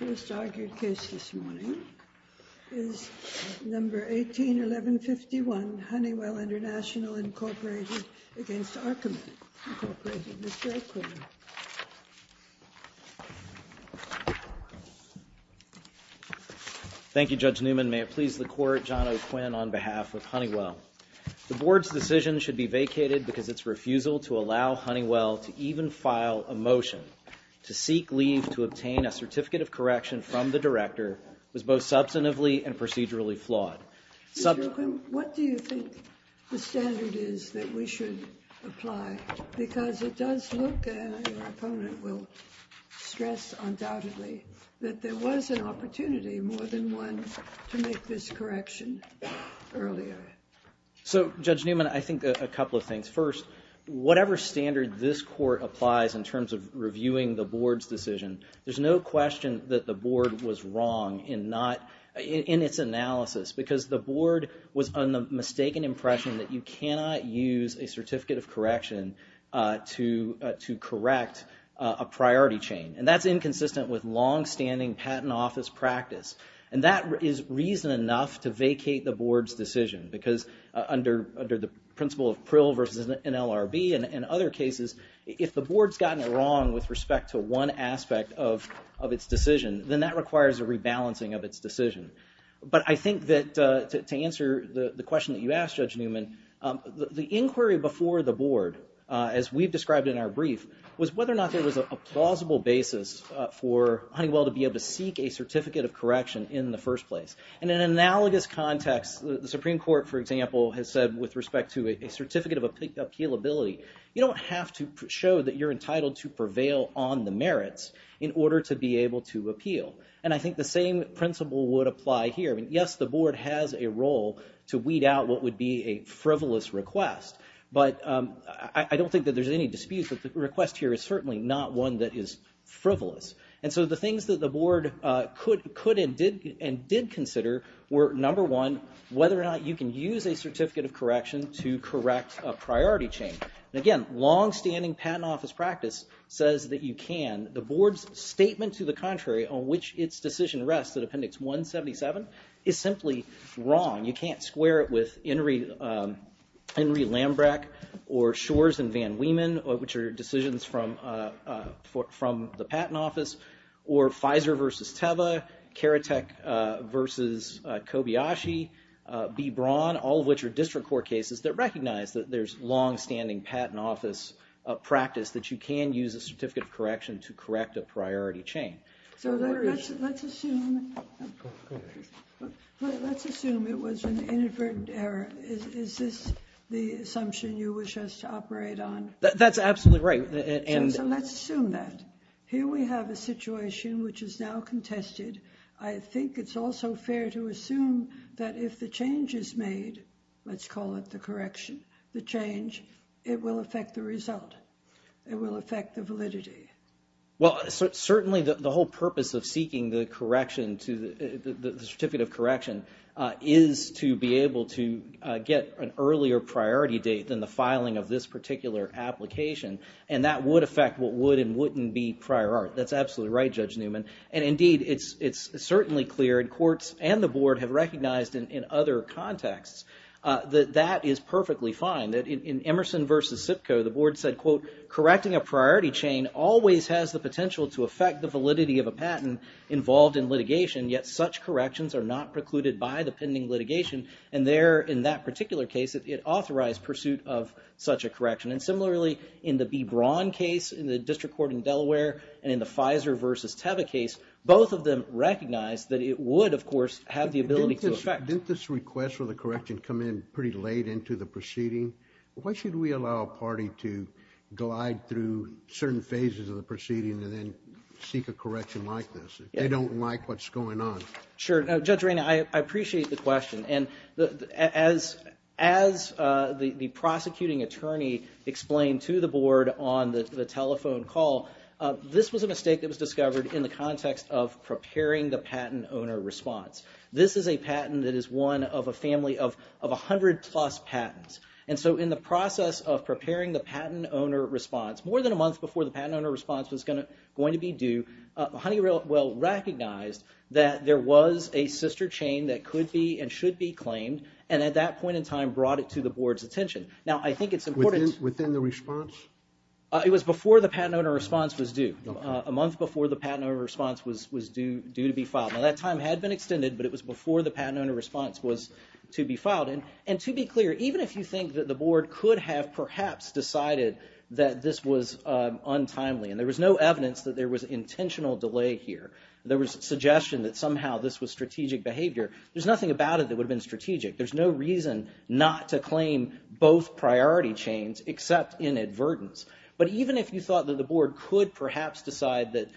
Mr. O'Quinn. Thank you, Judge Newman. May it please the Court, John O'Quinn on behalf of Honeywell. The Board's decision should be vacated because its refusal to allow Honeywell to even file a motion to seek leave to obtain a Certificate of Correction from the Director was both substantively and procedurally flawed. Mr. O'Quinn, what do you think the standard is that we should apply? Because it does look, and your opponent will stress undoubtedly, that there was an opportunity more than one to make this correction earlier. So, Judge Newman, I think a couple of things. First, whatever standard this Court applies in terms of reviewing the Board's decision, there's no question that the Board was wrong in its analysis because the Board was on the mistaken impression that you cannot use a Certificate of Correction to correct a priority chain. And that's inconsistent with longstanding patent office practice. And that is reason enough to vacate the Board's decision because under the principle of Prill versus an LRB and other cases, if the Board's gotten it wrong with respect to one aspect of its decision, then that requires a rebalancing of its decision. But I think that to answer the question that you asked, Judge Newman, the inquiry before the Board, as we've described in our brief, was whether or not there was a plausible basis for Honeywell to be able to seek a Certificate of Correction in the first place. In an analogous context, the Supreme Court, for example, has said with respect to a Certificate of Appealability, you don't have to show that you're entitled to prevail on the merits in order to be able to appeal. And I think the same principle would apply here. Yes, the Board has a role to weed out what would be a frivolous request, but I don't think that there's any dispute that the request here is certainly not one that is frivolous. And so the things that the Board could and did consider were, number one, whether or not you can use a Certificate of Correction to correct a priority change. And again, longstanding patent office practice says that you can. The Board's statement to the contrary on which its decision rests, at Appendix 177, is simply wrong. You can't square it with Henry Lambrecht or Shor's and Van Weeman, which are decisions from the patent office, or Pfizer versus Teva, Karatek versus Kobayashi, B. Braun, all of which are district court cases that recognize that there's longstanding patent office practice that you can use a Certificate of Correction to correct a priority change. So let's assume it was an inadvertent error. Is this the assumption you wish us to operate on? That's absolutely right. So let's assume that. Here we have a situation which is now contested. I think it's also fair to assume that if the change is made, let's call it the correction, the change, it will affect the result. It will affect the validity. Well, certainly, the whole purpose of seeking the Certificate of Correction is to be able to get an earlier priority date than the filing of this particular application, and that would affect what would and wouldn't be prior art. That's absolutely right, Judge Newman, and indeed, it's certainly clear, and courts and the Board have recognized in other contexts, that that is perfectly fine. In Emerson versus SIPCO, the Board said, quote, correcting a priority chain always has the potential to affect the validity of a patent involved in litigation, yet such corrections are not precluded by the pending litigation, and there, in that particular case, it authorized pursuit of such a correction. And similarly, in the B. Braun case in the District Court in Delaware, and in the Pfizer versus Teva case, both of them recognized that it would, of course, have the ability to affect. Judge Reina, didn't this request for the correction come in pretty late into the proceeding? Why should we allow a party to glide through certain phases of the proceeding and then seek a correction like this, if they don't like what's going on? Sure. Judge Reina, I appreciate the question, and as the prosecuting attorney explained to the Board on the telephone call, this was a mistake that was discovered in the context of preparing the patent owner response. This is a patent that is one of a family of 100-plus patents, and so in the process of preparing the patent owner response, more than a month before the patent owner response was going to be due, Honeywell recognized that there was a sister chain that could be and should be claimed, and at that point in time brought it to the Board's attention. Now I think it's important... Within the response? It was before the patent owner response was due, a month before the patent owner response was due to be filed. Now that time had been extended, but it was before the patent owner response was to be filed, and to be clear, even if you think that the Board could have perhaps decided that this was untimely, and there was no evidence that there was intentional delay here, there was suggestion that somehow this was strategic behavior, there's nothing about it that would have been strategic. There's no reason not to claim both priority chains except in advertence, but even if you think that the Board could perhaps decide that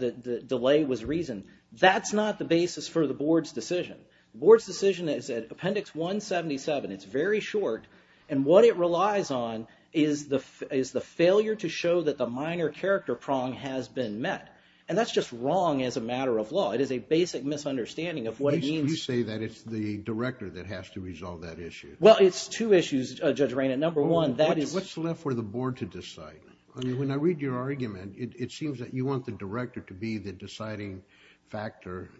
the delay was reason, that's not the basis for the Board's decision. The Board's decision is at Appendix 177, it's very short, and what it relies on is the failure to show that the minor character prong has been met, and that's just wrong as a matter of law. It is a basic misunderstanding of what it means... At least you say that it's the Director that has to resolve that issue. Well it's two issues, Judge Reinert. Number one, that is... What's left for the Board to decide? When I read your argument, it seems that you want the Director to be the deciding factor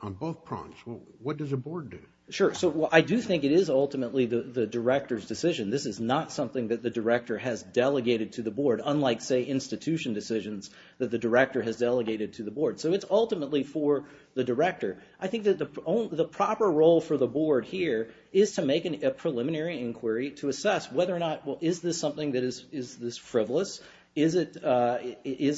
on both prongs. What does the Board do? Sure. So I do think it is ultimately the Director's decision. This is not something that the Director has delegated to the Board, unlike, say, institution decisions that the Director has delegated to the Board. So it's ultimately for the Director. I think that the proper role for the Board here is to make a preliminary inquiry to assess whether or not, well, is this something that is frivolous, or is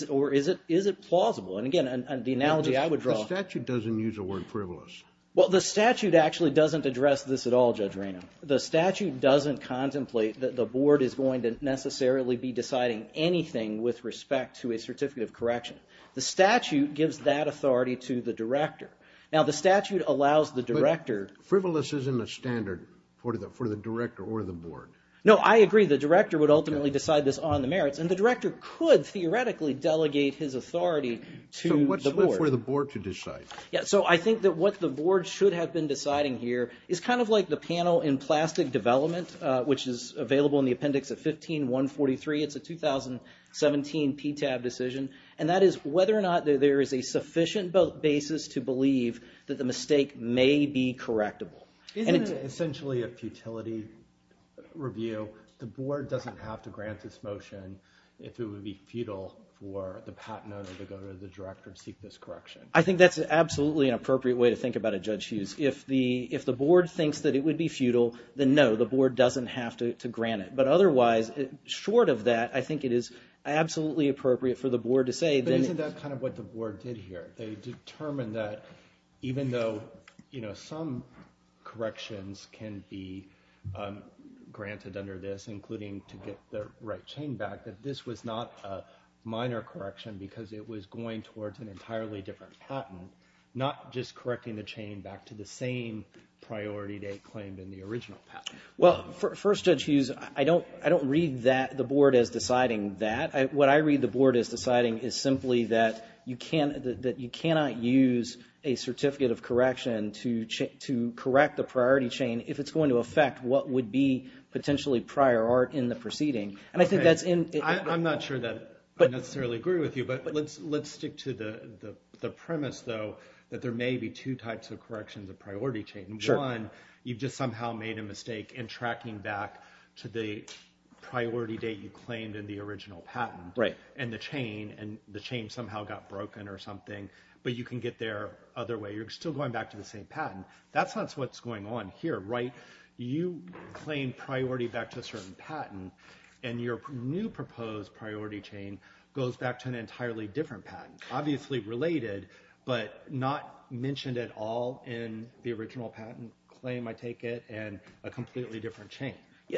it plausible? And again, the analogy I would draw... The statute doesn't use the word frivolous. Well, the statute actually doesn't address this at all, Judge Reinert. The statute doesn't contemplate that the Board is going to necessarily be deciding anything with respect to a certificate of correction. The statute gives that authority to the Director. Now the statute allows the Director... Frivolous isn't a standard for the Director or the Board. No, I agree. The Director would ultimately decide this on the merits, and the Director could theoretically delegate his authority to the Board. So what's left for the Board to decide? Yeah, so I think that what the Board should have been deciding here is kind of like the panel in plastic development, which is available in the appendix of 15-143. It's a 2017 PTAB decision, and that is whether or not there is a sufficient basis to believe that the mistake may be correctable. Isn't it essentially a futility review? The Board doesn't have to grant this motion if it would be futile for the patent owner to go to the Director and seek this correction. I think that's absolutely an appropriate way to think about it, Judge Hughes. If the Board thinks that it would be futile, then no, the Board doesn't have to grant it. But otherwise, short of that, I think it is absolutely appropriate for the Board to say... But isn't that kind of what the Board did here? They determined that even though, you know, some corrections can be granted under this, including to get the right chain back, that this was not a minor correction because it was going towards an entirely different patent, not just correcting the chain back to the same priority they claimed in the original patent. Well, first, Judge Hughes, I don't read the Board as deciding that. What I read the Board as deciding is simply that you cannot use a certificate of correction to correct the priority chain if it's going to affect what would be potentially prior art in the proceeding. And I think that's... I'm not sure that I necessarily agree with you, but let's stick to the premise, though, that there may be two types of corrections of priority chain. One, you've just somehow made a mistake in tracking back to the priority date you claimed in the original patent, and the chain somehow got broken or something, but you can get there other way. You're still going back to the same patent. That's not what's going on here, right? You claim priority back to a certain patent, and your new proposed priority chain goes back to an entirely different patent. Obviously related, but not mentioned at all in the original patent claim, I take it, and a completely different chain.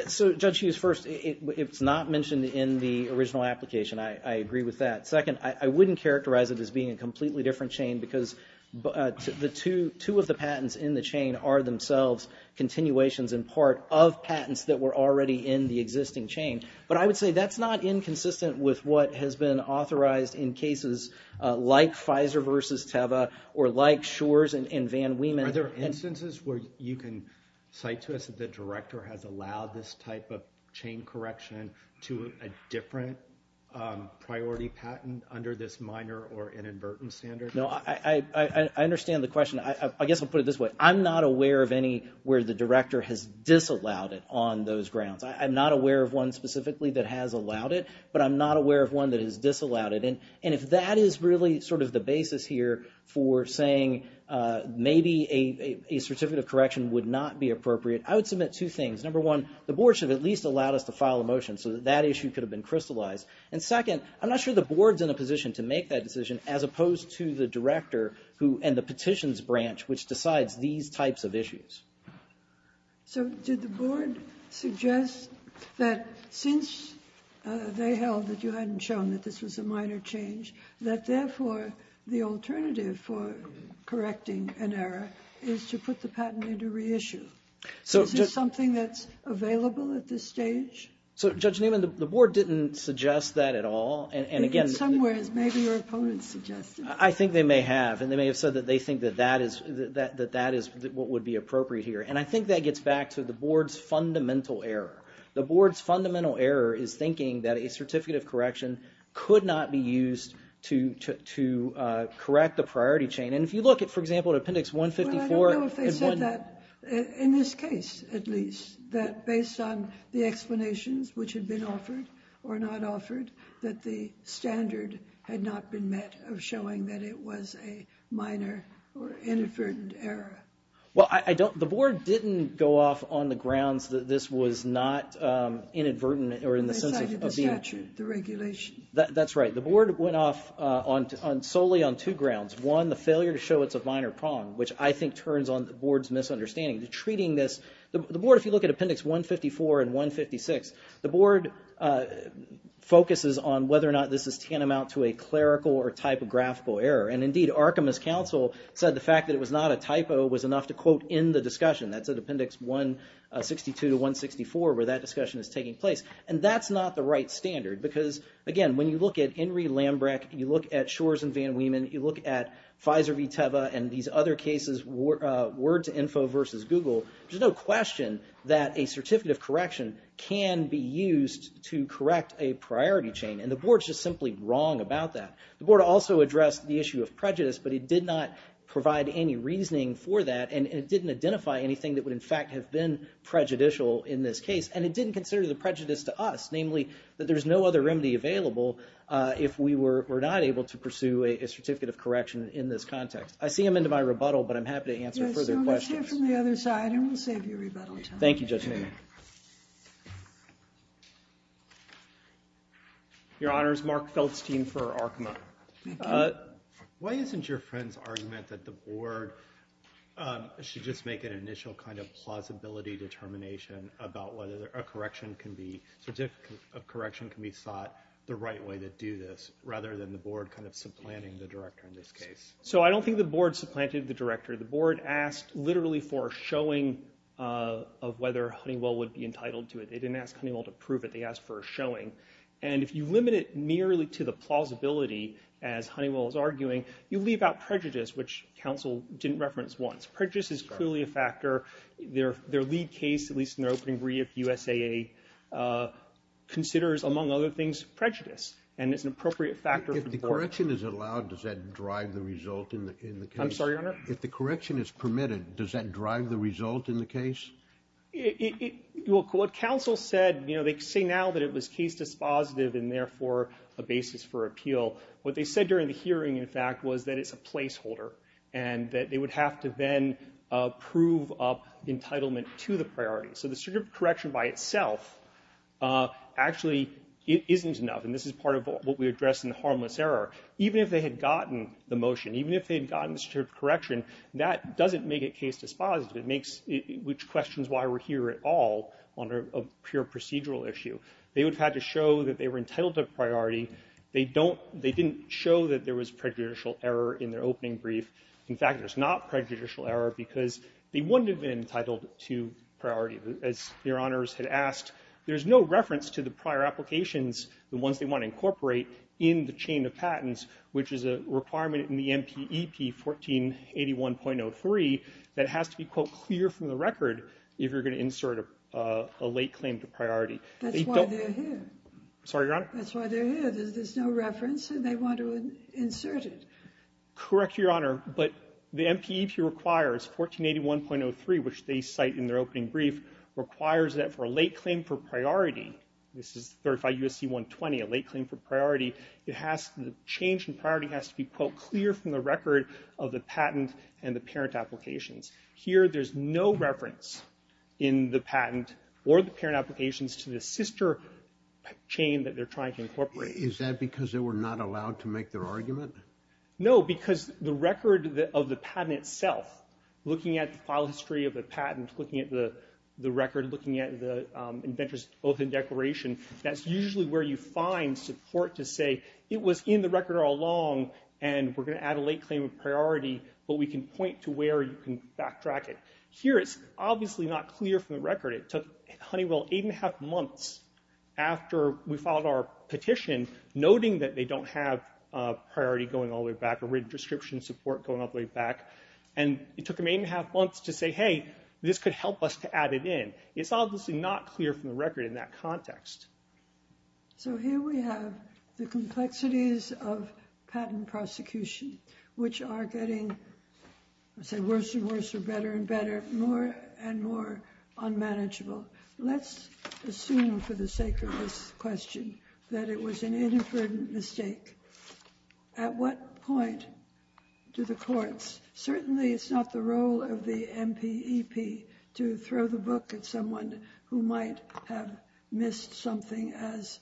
So, Judge Hughes, first, it's not mentioned in the original application. I agree with that. Second, I wouldn't characterize it as being a completely different chain because the two of the patents in the chain are themselves continuations in part of patents that were already in the existing chain. But I would say that's not inconsistent with what has been authorized in cases like Pfizer versus Teva or like Schor's and Van Wieman. Are there instances where you can cite to us that the director has allowed this type of chain correction to a different priority patent under this minor or inadvertent standard? No, I understand the question. I guess I'll put it this way. I'm not aware of any where the director has disallowed it on those grounds. I'm not aware of one specifically that has allowed it, but I'm not aware of one that has disallowed it. And if that is really sort of the basis here for saying maybe a certificate of correction would not be appropriate, I would submit two things. Number one, the board should have at least allowed us to file a motion so that that issue could have been crystallized. And second, I'm not sure the board's in a position to make that decision as opposed to the director and the petitions branch, which decides these types of issues. So did the board suggest that since they held that you hadn't shown that this was a minor change, that therefore the alternative for correcting an error is to put the patent into reissue? So is this something that's available at this stage? So Judge Newman, the board didn't suggest that at all. And again... In some ways, maybe your opponents suggested it. I think they may have. And they may have said that they think that that is what would be appropriate here. And I think that gets back to the board's fundamental error. The board's fundamental error is thinking that a certificate of correction could not be used to correct the priority chain. And if you look at, for example, Appendix 154... Well, I don't know if they said that in this case, at least, that based on the explanations which had been offered or not offered, that the standard had not been met of showing that it was a minor or inadvertent error. Well, I don't... The board didn't go off on the grounds that this was not inadvertent or in the sense of... Besides the statute, the regulation. That's right. The board went off solely on two grounds. One, the failure to show it's a minor problem, which I think turns on the board's misunderstanding. Treating this... The board, if you look at Appendix 154 and 156, the board focuses on whether or not this is tantamount to a clerical or typographical error. And indeed, Arkema's counsel said the fact that it was not a typo was enough to quote in the discussion. That's at Appendix 162 to 164, where that discussion is taking place. And that's not the right standard because, again, when you look at Henry Lambrecht, you look at Shor's and Van Weemen, you look at Pfizer v. Teva, and these other cases, Word to Info versus Google, there's no question that a certificate of correction can be used to correct a priority chain, and the board's just simply wrong about that. The board also addressed the issue of prejudice, but it did not provide any reasoning for that, and it didn't identify anything that would, in fact, have been prejudicial in this case, and it didn't consider the prejudice to us, namely, that there's no other remedy available if we were not able to pursue a certificate of correction in this context. I see him into my rebuttal, but I'm happy to answer further questions. Yes, so let's hear from the other side, and we'll save you rebuttal time. Thank you, Judge Newman. Your Honor, it's Mark Feldstein for Arkema. Why isn't your friend's argument that the board should just make an initial kind of plausibility determination about whether a correction can be sought the right way to do this, rather than the board kind of supplanting the director in this case? So I don't think the board supplanted the director. The board asked literally for a showing of whether Honeywell would be entitled to it. They didn't ask Honeywell to prove it. They asked for a showing, and if you limit it merely to the plausibility, as Honeywell is arguing, you leave out prejudice, which counsel didn't reference once. Prejudice is clearly a factor. Their lead case, at least in their opening brief, USAA, considers, among other things, prejudice, and it's an appropriate factor for the board. If the correction is allowed, does that drive the result in the case? I'm sorry, Your Honor? If the correction is permitted, does that drive the result in the case? Well, what counsel said, you know, they say now that it was case dispositive, and therefore a basis for appeal. What they said during the hearing, in fact, was that it's a placeholder, and that they would have to then prove up entitlement to the priority. So the statute of correction by itself actually isn't enough, and this is part of what we addressed in the harmless error. Even if they had gotten the motion, even if they had gotten the statute of correction, that doesn't make it case dispositive. It makes it, which questions why we're here at all on a pure procedural issue. They would have had to show that they were entitled to priority. They don't, they didn't show that there was prejudicial error in their opening brief. In fact, there's not prejudicial error because they wouldn't have been entitled to priority. As Your Honors had asked, there's no reference to the prior applications, the ones they want to incorporate, in the chain of patents, which is a requirement in the MPEP 1481.03 that has to be, quote, clear from the record if you're going to insert a late claim to priority. That's why they're here. Sorry, Your Honor? That's why they're here. There's no reference, and they want to insert it. Correct, Your Honor, but the MPEP requires 1481.03, which they cite in their opening brief, requires that for a late claim for priority, this is 35 USC 120, a late claim for priority, it has to, the change in priority has to be, quote, clear from the record of the patent and the parent applications. Here there's no reference in the patent or the parent applications to the sister chain that they're trying to incorporate. Is that because they were not allowed to make their argument? No, because the record of the patent itself, looking at the file history of the patent, looking at the record, looking at the inventor's open declaration, that's usually where you find support to say, it was in the record all along, and we're going to add a late claim of priority, but we can point to where you can backtrack it. Here it's obviously not clear from the record. It took Honeywell eight and a half months after we filed our petition, noting that they don't have priority going all the way back, or written description support going all the way back, and it took them eight and a half months to say, hey, this could help us to add it in. It's obviously not clear from the record in that context. So here we have the complexities of patent prosecution, which are getting, I would say, worse and worse or better and better, more and more unmanageable. Let's assume for the sake of this question that it was an inadvertent mistake. At what point do the courts, certainly it's not the role of the MPEP to throw the book at someone who might have missed something as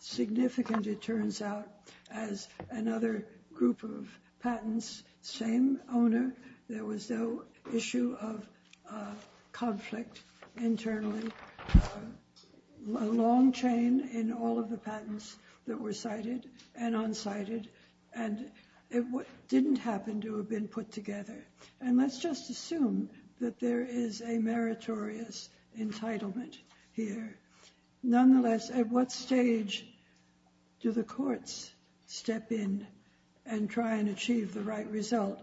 significant, it turns out, as another group of patents, same owner, there was no issue of conflict internally, a long chain in all of the patents that were cited and unsighted, and it didn't happen to have been put together. And let's just assume that there is a meritorious entitlement here. Nonetheless, at what stage do the courts step in and try and achieve the right result,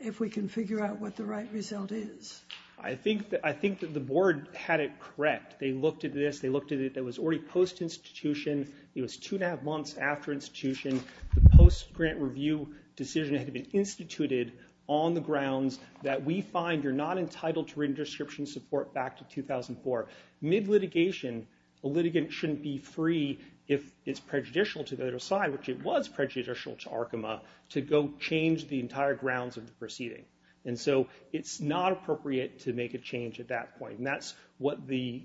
if we can figure out what the right result is? I think that the board had it correct. They looked at this, they looked at it, it was already post-institution, it was two and a half months after institution, the post-grant review decision had to be instituted on the grounds that we find you're not entitled to written description support back to 2004. Mid-litigation, a litigant shouldn't be free, if it's prejudicial to the other side, which it was prejudicial to Arkema, to go change the entire grounds of the proceeding. And so it's not appropriate to make a change at that point, and that's what the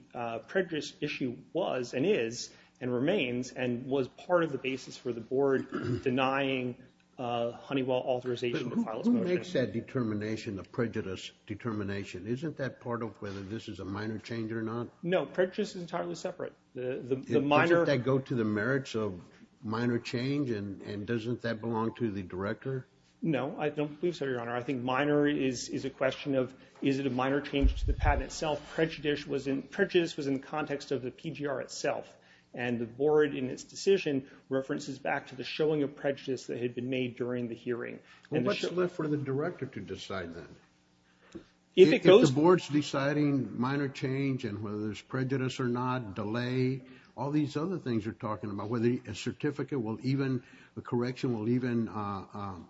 prejudice issue was, and is, and remains, and was part of the basis for the board denying Honeywell authorization to file its motion. But who makes that determination, the prejudice determination? Isn't that part of whether this is a minor change or not? No, prejudice is entirely separate. The minor... Doesn't that go to the merits of minor change, and doesn't that belong to the director? No, I don't believe so, Your Honor. I think minor is a question of, is it a minor change to the patent itself? Prejudice was in the context of the PGR itself, and the board, in its decision, references back to the showing of prejudice that had been made during the hearing. Well, what's left for the director to decide then? If it goes... If the board's deciding minor change, and whether there's prejudice or not, delay, all these other things you're talking about, whether a certificate will even, a correction will even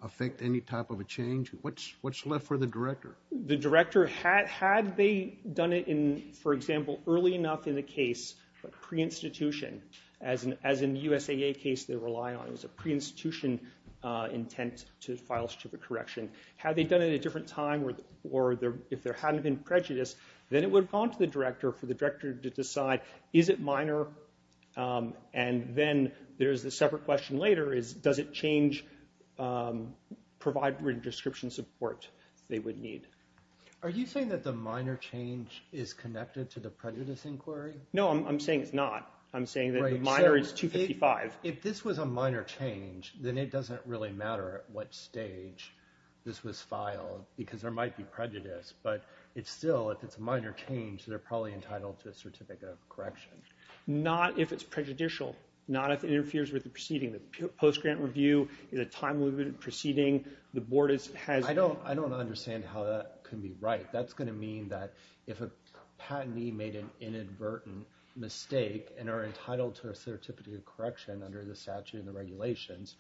affect any type of a change, what's left for the director? The director, had they done it in, for example, early enough in the case, a pre-institution, as in the USAA case they rely on, it was a pre-institution intent to file a certificate correction. Had they done it at a different time, or if there hadn't been prejudice, then it would have gone to the director for the director to decide, is it minor? And then there's the separate question later, is, does it change, provide written description support they would need? Are you saying that the minor change is connected to the prejudice inquiry? No, I'm saying it's not. I'm saying that the minor is 255. If this was a minor change, then it doesn't really matter at what stage this was filed, because there might be prejudice. But it's still, if it's a minor change, they're probably entitled to a certificate of correction. Not if it's prejudicial, not if it interferes with the proceeding. The post-grant review is a timely proceeding. The board has... I don't understand how that can be right. That's going to mean that if a patentee made an inadvertent mistake and are entitled to a certificate of correction under the statute and the regulations,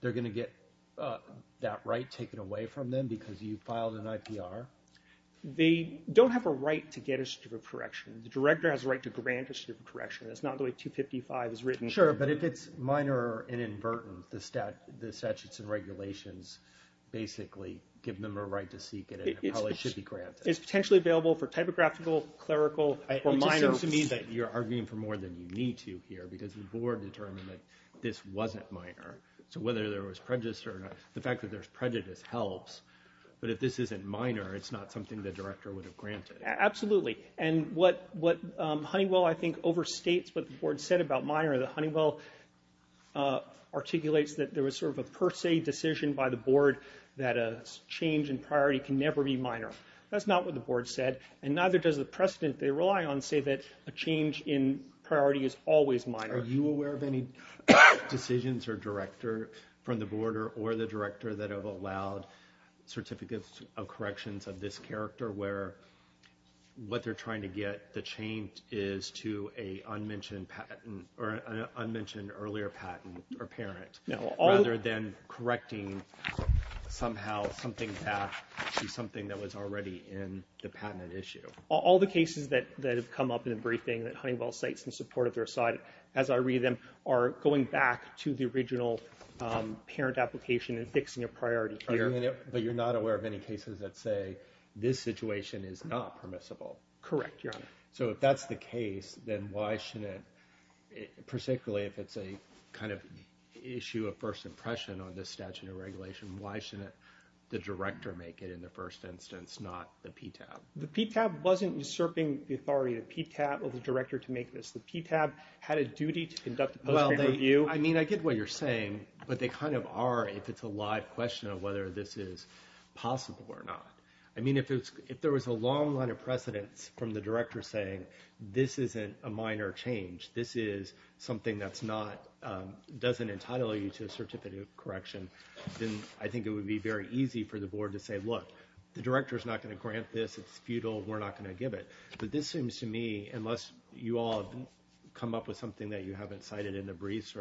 they're going to get that right taken away from them because you filed an IPR? They don't have a right to get a certificate of correction. The director has a right to grant a certificate of correction. That's not the way 255 is written. Sure, but if it's minor or inadvertent, the statutes and regulations basically give them a right to seek it. It probably should be granted. It's potentially available for typographical, clerical, or minor. It just seems to me that you're arguing for more than you need to here, because the board determined that this wasn't minor. So whether there was prejudice or not, the fact that there's prejudice helps, but if this isn't minor, it's not something the director would have granted. Absolutely. And what Honeywell, I think, overstates what the board said about minor. The Honeywell articulates that there was sort of a per se decision by the board that a change in priority can never be minor. That's not what the board said, and neither does the precedent they rely on say that a change in priority is always minor. Are you aware of any decisions or director from the board or the director that have allowed certificates of corrections of this character where what they're trying to get the change is to an unmentioned earlier patent or parent, rather than correcting somehow something that was already in the patent issue? All the cases that have come up in the briefing that Honeywell cites in support of their side, as I read them, are going back to the original parent application and fixing a priority. But you're not aware of any cases that say this situation is not permissible? Correct, Your Honor. So if that's the case, then why shouldn't, particularly if it's a kind of issue of first impression on this statute of regulation, why shouldn't the director make it in the first instance, not the PTAB? The PTAB wasn't usurping the authority of the PTAB or the director to make this. The PTAB had a duty to conduct a post-grade review. I mean, I get what you're saying, but they kind of are, if it's a live question of whether this is possible or not. I mean, if there was a long line of precedents from the director saying, this isn't a minor change, this is something that doesn't entitle you to a certificate of correction, then I think it would be very easy for the board to say, look, the director is not going to grant this. It's futile. We're not going to give it. But this seems to me, unless you all come up with something that you haven't cited in the briefs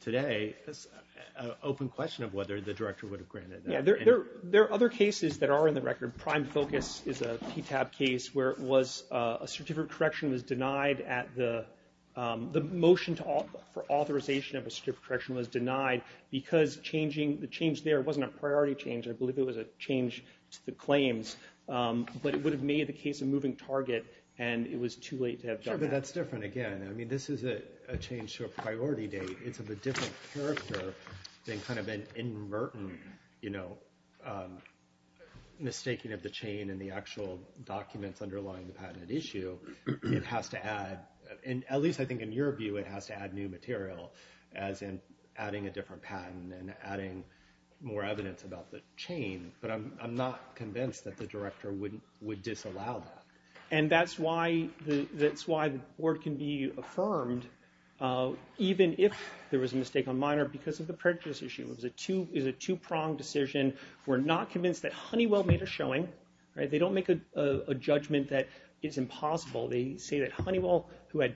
today, it's an open question of whether the director would have granted that. There are other cases that are in the record. Prime Focus is a PTAB case where a certificate of correction was denied at the motion for authorization of a certificate of correction was denied because the change there wasn't a priority change. I believe it was a change to the claims. But it would have made the case a moving target, and it was too late to have done that. Sure, but that's different again. I mean, this is a change to a priority date. It's of a different character than kind of an inadvertent, you know, mistaking of the chain in the actual documents underlying the patented issue. It has to add, at least I think in your view, it has to add new material, as in adding a different patent and adding more evidence about the chain. But I'm not convinced that the director would disallow that. And that's why the board can be affirmed, even if there was a mistake on minor, because of the prejudice issue. It was a two-pronged decision. We're not convinced that Honeywell made a showing. They don't make a judgment that it's impossible. They say that Honeywell, who had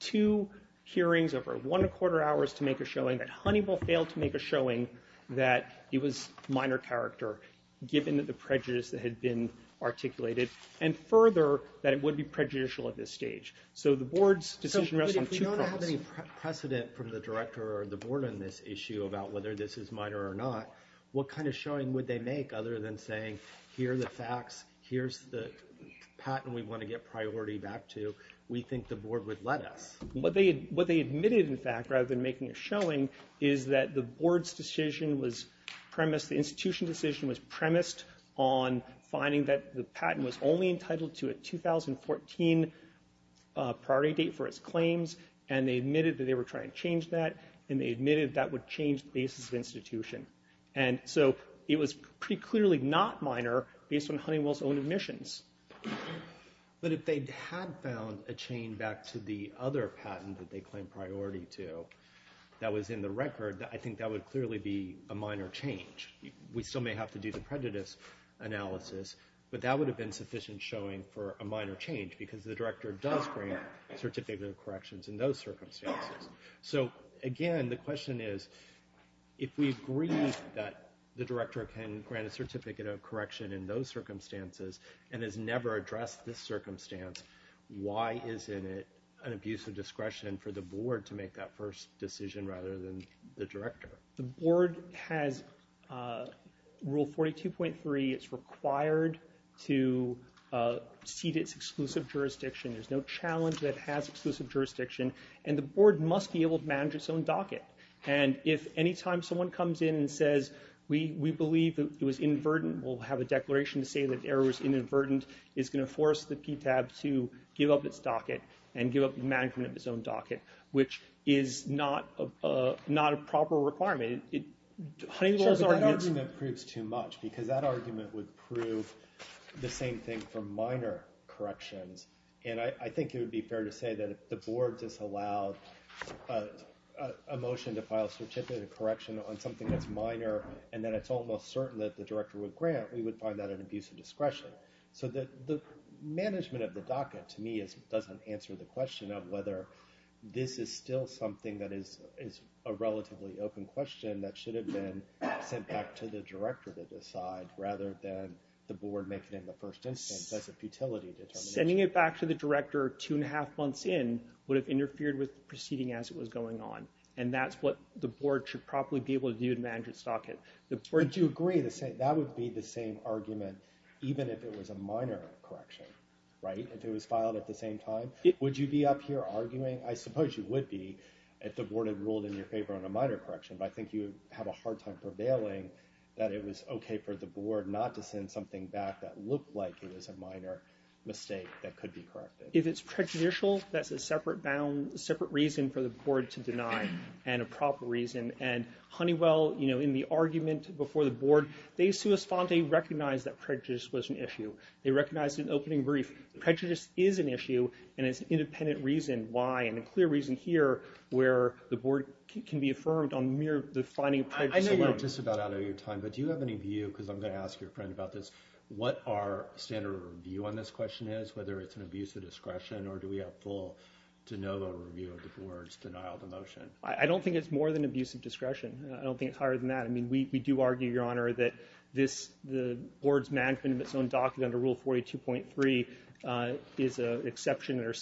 two hearings over one and a quarter hours to make a showing, that Honeywell failed to make a showing that it was minor character, given the prejudice that had been articulated. And further, that it would be prejudicial at this stage. So the board's decision rests on two prongs. So if we don't have any precedent from the director or the board on this issue about whether this is minor or not, what kind of showing would they make other than saying, here are the facts, here's the patent we want to get priority back to. We think the board would let us. What they admitted, in fact, rather than making a showing, is that the board's decision was premised on finding that the patent was only entitled to a 2014 priority date for its claims, and they admitted that they were trying to change that, and they admitted that would change the basis of institution. And so it was pretty clearly not minor, based on Honeywell's own admissions. But if they had found a chain back to the other patent that they claimed priority to that was in the record, I think that would clearly be a minor change. We still may have to do the prejudice analysis, but that would have been sufficient showing for a minor change, because the director does grant a certificate of corrections in those circumstances. So again, the question is, if we agree that the director can grant a certificate of correction in those circumstances, and has never addressed this circumstance, why isn't it an abuse of discretion for the board to make that first decision rather than the director? The board has Rule 42.3. It's required to cede its exclusive jurisdiction. There's no challenge that it has exclusive jurisdiction, and the board must be able to manage its own docket. And if any time someone comes in and says, we believe it was inadvertent, we'll have a declaration to say that error was inadvertent, it's going to force the PTAB to give up its own docket, which is not a proper requirement. It handles arguments... Sure, but that argument proves too much, because that argument would prove the same thing for minor corrections. And I think it would be fair to say that if the board disallowed a motion to file a certificate of correction on something that's minor, and then it's almost certain that the director would grant, we would find that an abuse of discretion. So the management of the docket, to me, doesn't answer the question of whether this is still something that is a relatively open question that should have been sent back to the director to decide, rather than the board making it in the first instance as a futility determination. Sending it back to the director two and a half months in would have interfered with proceeding as it was going on. And that's what the board should probably be able to do to manage its docket. But do you agree that that would be the same argument even if it was a minor correction? Right? If it was filed at the same time? Would you be up here arguing? I suppose you would be if the board had ruled in your favor on a minor correction, but I think you have a hard time prevailing that it was okay for the board not to send something back that looked like it was a minor mistake that could be corrected. If it's prejudicial, that's a separate reason for the board to deny, and a proper reason. And Honeywell, you know, in the argument before the board, they sua sponte recognized that prejudice was an issue. They recognized it in the opening brief. Prejudice is an issue, and it's an independent reason why, and a clear reason here where the board can be affirmed on the finding of prejudice alone. I know we're just about out of your time, but do you have any view, because I'm going to ask your friend about this, what our standard of review on this question is, whether it's an abuse of discretion or do we have full, de novo review of the board's denial of motion? I don't think it's more than abuse of discretion. I don't think it's higher than that. I mean, we do argue, Your Honor, that this, the board's management of its own docket under Rule 42.3 is an exception under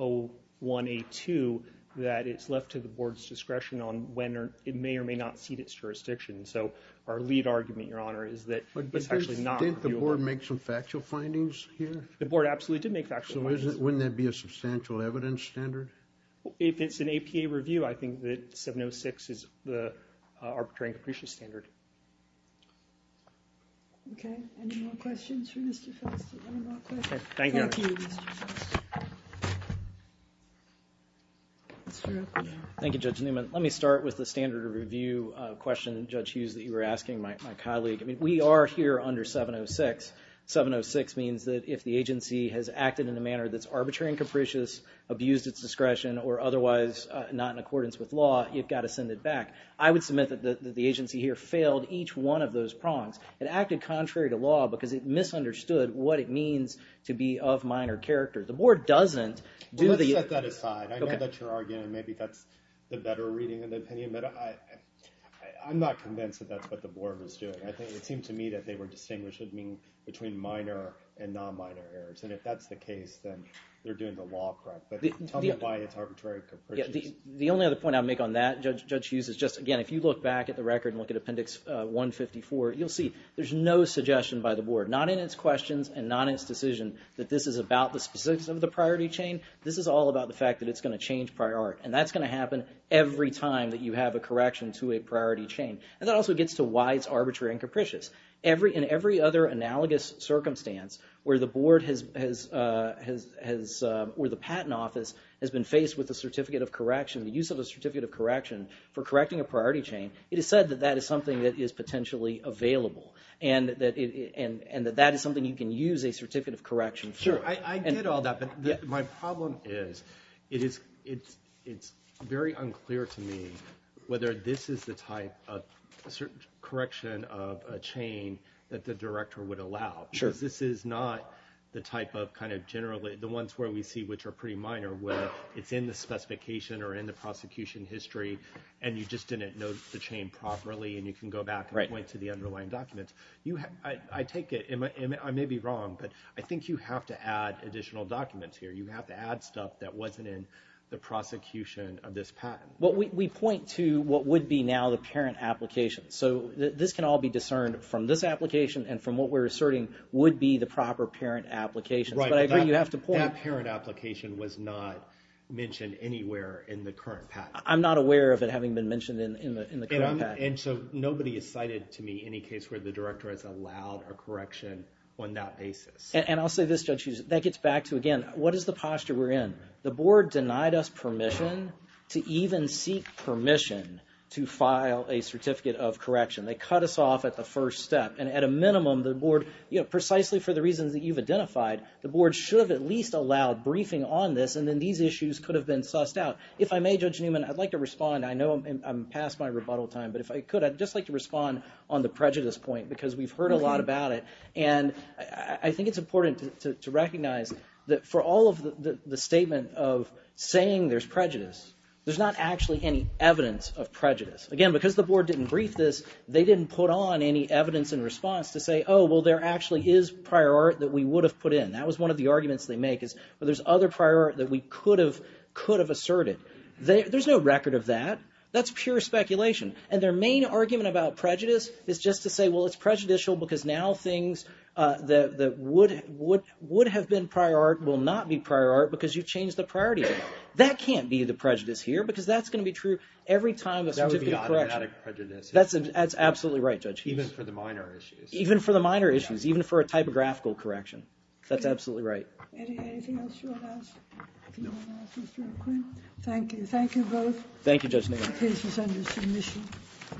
701A2 that it's left to the board's discretion on when or, it may or may not cede its jurisdiction. So our lead argument, Your Honor, is that it's actually not reviewable. Didn't the board make some factual findings here? The board absolutely did make factual findings. So wouldn't that be a substantial evidence standard? If it's an APA review, I think that 706 is the arbitrary and capricious standard. Okay. Any more questions for Mr. Felsen? One more question. Okay. Thank you, Your Honor. Thank you, Mr. Felsen. Mr. O'Connor. Thank you, Judge Newman. Let me start with the standard of review question, Judge Hughes, that you were asking my colleague. I mean, we are here under 706. 706 means that if the agency has acted in a manner that's arbitrary and capricious, abused its discretion, or otherwise not in accordance with law, you've got to send it back. I would submit that the agency here failed each one of those prongs. It acted contrary to law because it misunderstood what it means to be of minor character. The board doesn't do the... Well, let's set that aside. Okay. I know that you're arguing maybe that's the better reading of the opinion, but I'm not convinced that that's what the board was doing. I think it seemed to me that they were distinguishing between minor and non-minor errors, and if that's the case, then they're doing the law correct, but tell me why it's arbitrary and capricious. The only other point I'll make on that, Judge Hughes, is just, again, if you look back at the record and look at Appendix 154, you'll see there's no suggestion by the board, not in its questions and not in its decision, that this is about the specifics of the priority chain. This is all about the fact that it's going to change prior art, and that's going to happen every time that you have a correction to a priority chain. And that also gets to why it's arbitrary and capricious. In every other analogous circumstance where the board has... Where the patent office has been faced with the certificate of correction, the use of a certificate of correction for correcting a priority chain, it is said that that is something that is potentially available, and that that is something you can use a certificate of correction for. Sure, I get all that, but my problem is it's very unclear to me whether this is the type of correction of a chain that the director would allow. Sure. Because this is not the type of kind of generally... The ones where we see which are pretty minor, where it's in the specification or in the prosecution history, and you just didn't note the chain properly, and you can go back and point to the underlying documents. I take it... I may be wrong, but I think you have to add additional documents here. You have to add stuff that wasn't in the prosecution of this patent. We point to what would be now the parent application, so this can all be discerned from this application and from what we're asserting would be the proper parent application, but I agree you have to point... That parent application was not mentioned anywhere in the current patent. I'm not aware of it having been mentioned in the current patent. Nobody has cited to me any case where the director has allowed a correction on that basis. I'll say this, Judge Hughes, that gets back to, again, what is the posture we're in? The board denied us permission to even seek permission to file a certificate of correction. They cut us off at the first step, and at a minimum, the board, precisely for the reasons that you've identified, the board should have at least allowed briefing on this, and then these issues could have been sussed out. If I may, Judge Newman, I'd like to respond. I know I'm past my rebuttal time, but if I could, I'd just like to respond on the prejudice point because we've heard a lot about it, and I think it's important to recognize that for all of the statement of saying there's prejudice, there's not actually any evidence of prejudice. Again, because the board didn't brief this, they didn't put on any evidence in response to say, oh, well, there actually is prior art that we would have put in. That was one of the arguments they make is, well, there's other prior art that we could have asserted. There's no record of that. That's pure speculation. And their main argument about prejudice is just to say, well, it's prejudicial because now things that would have been prior art will not be prior art because you've changed the priority. That can't be the prejudice here because that's going to be true every time a certificate of correction. That would be automatic prejudice. That's absolutely right, Judge Hughes. Even for the minor issues. Even for the minor issues, even for a typographical correction. That's absolutely right. Anything else you want to ask? No. Do you want to ask Mr. McQueen? Thank you. Thank you both. Thank you, Judge Newman.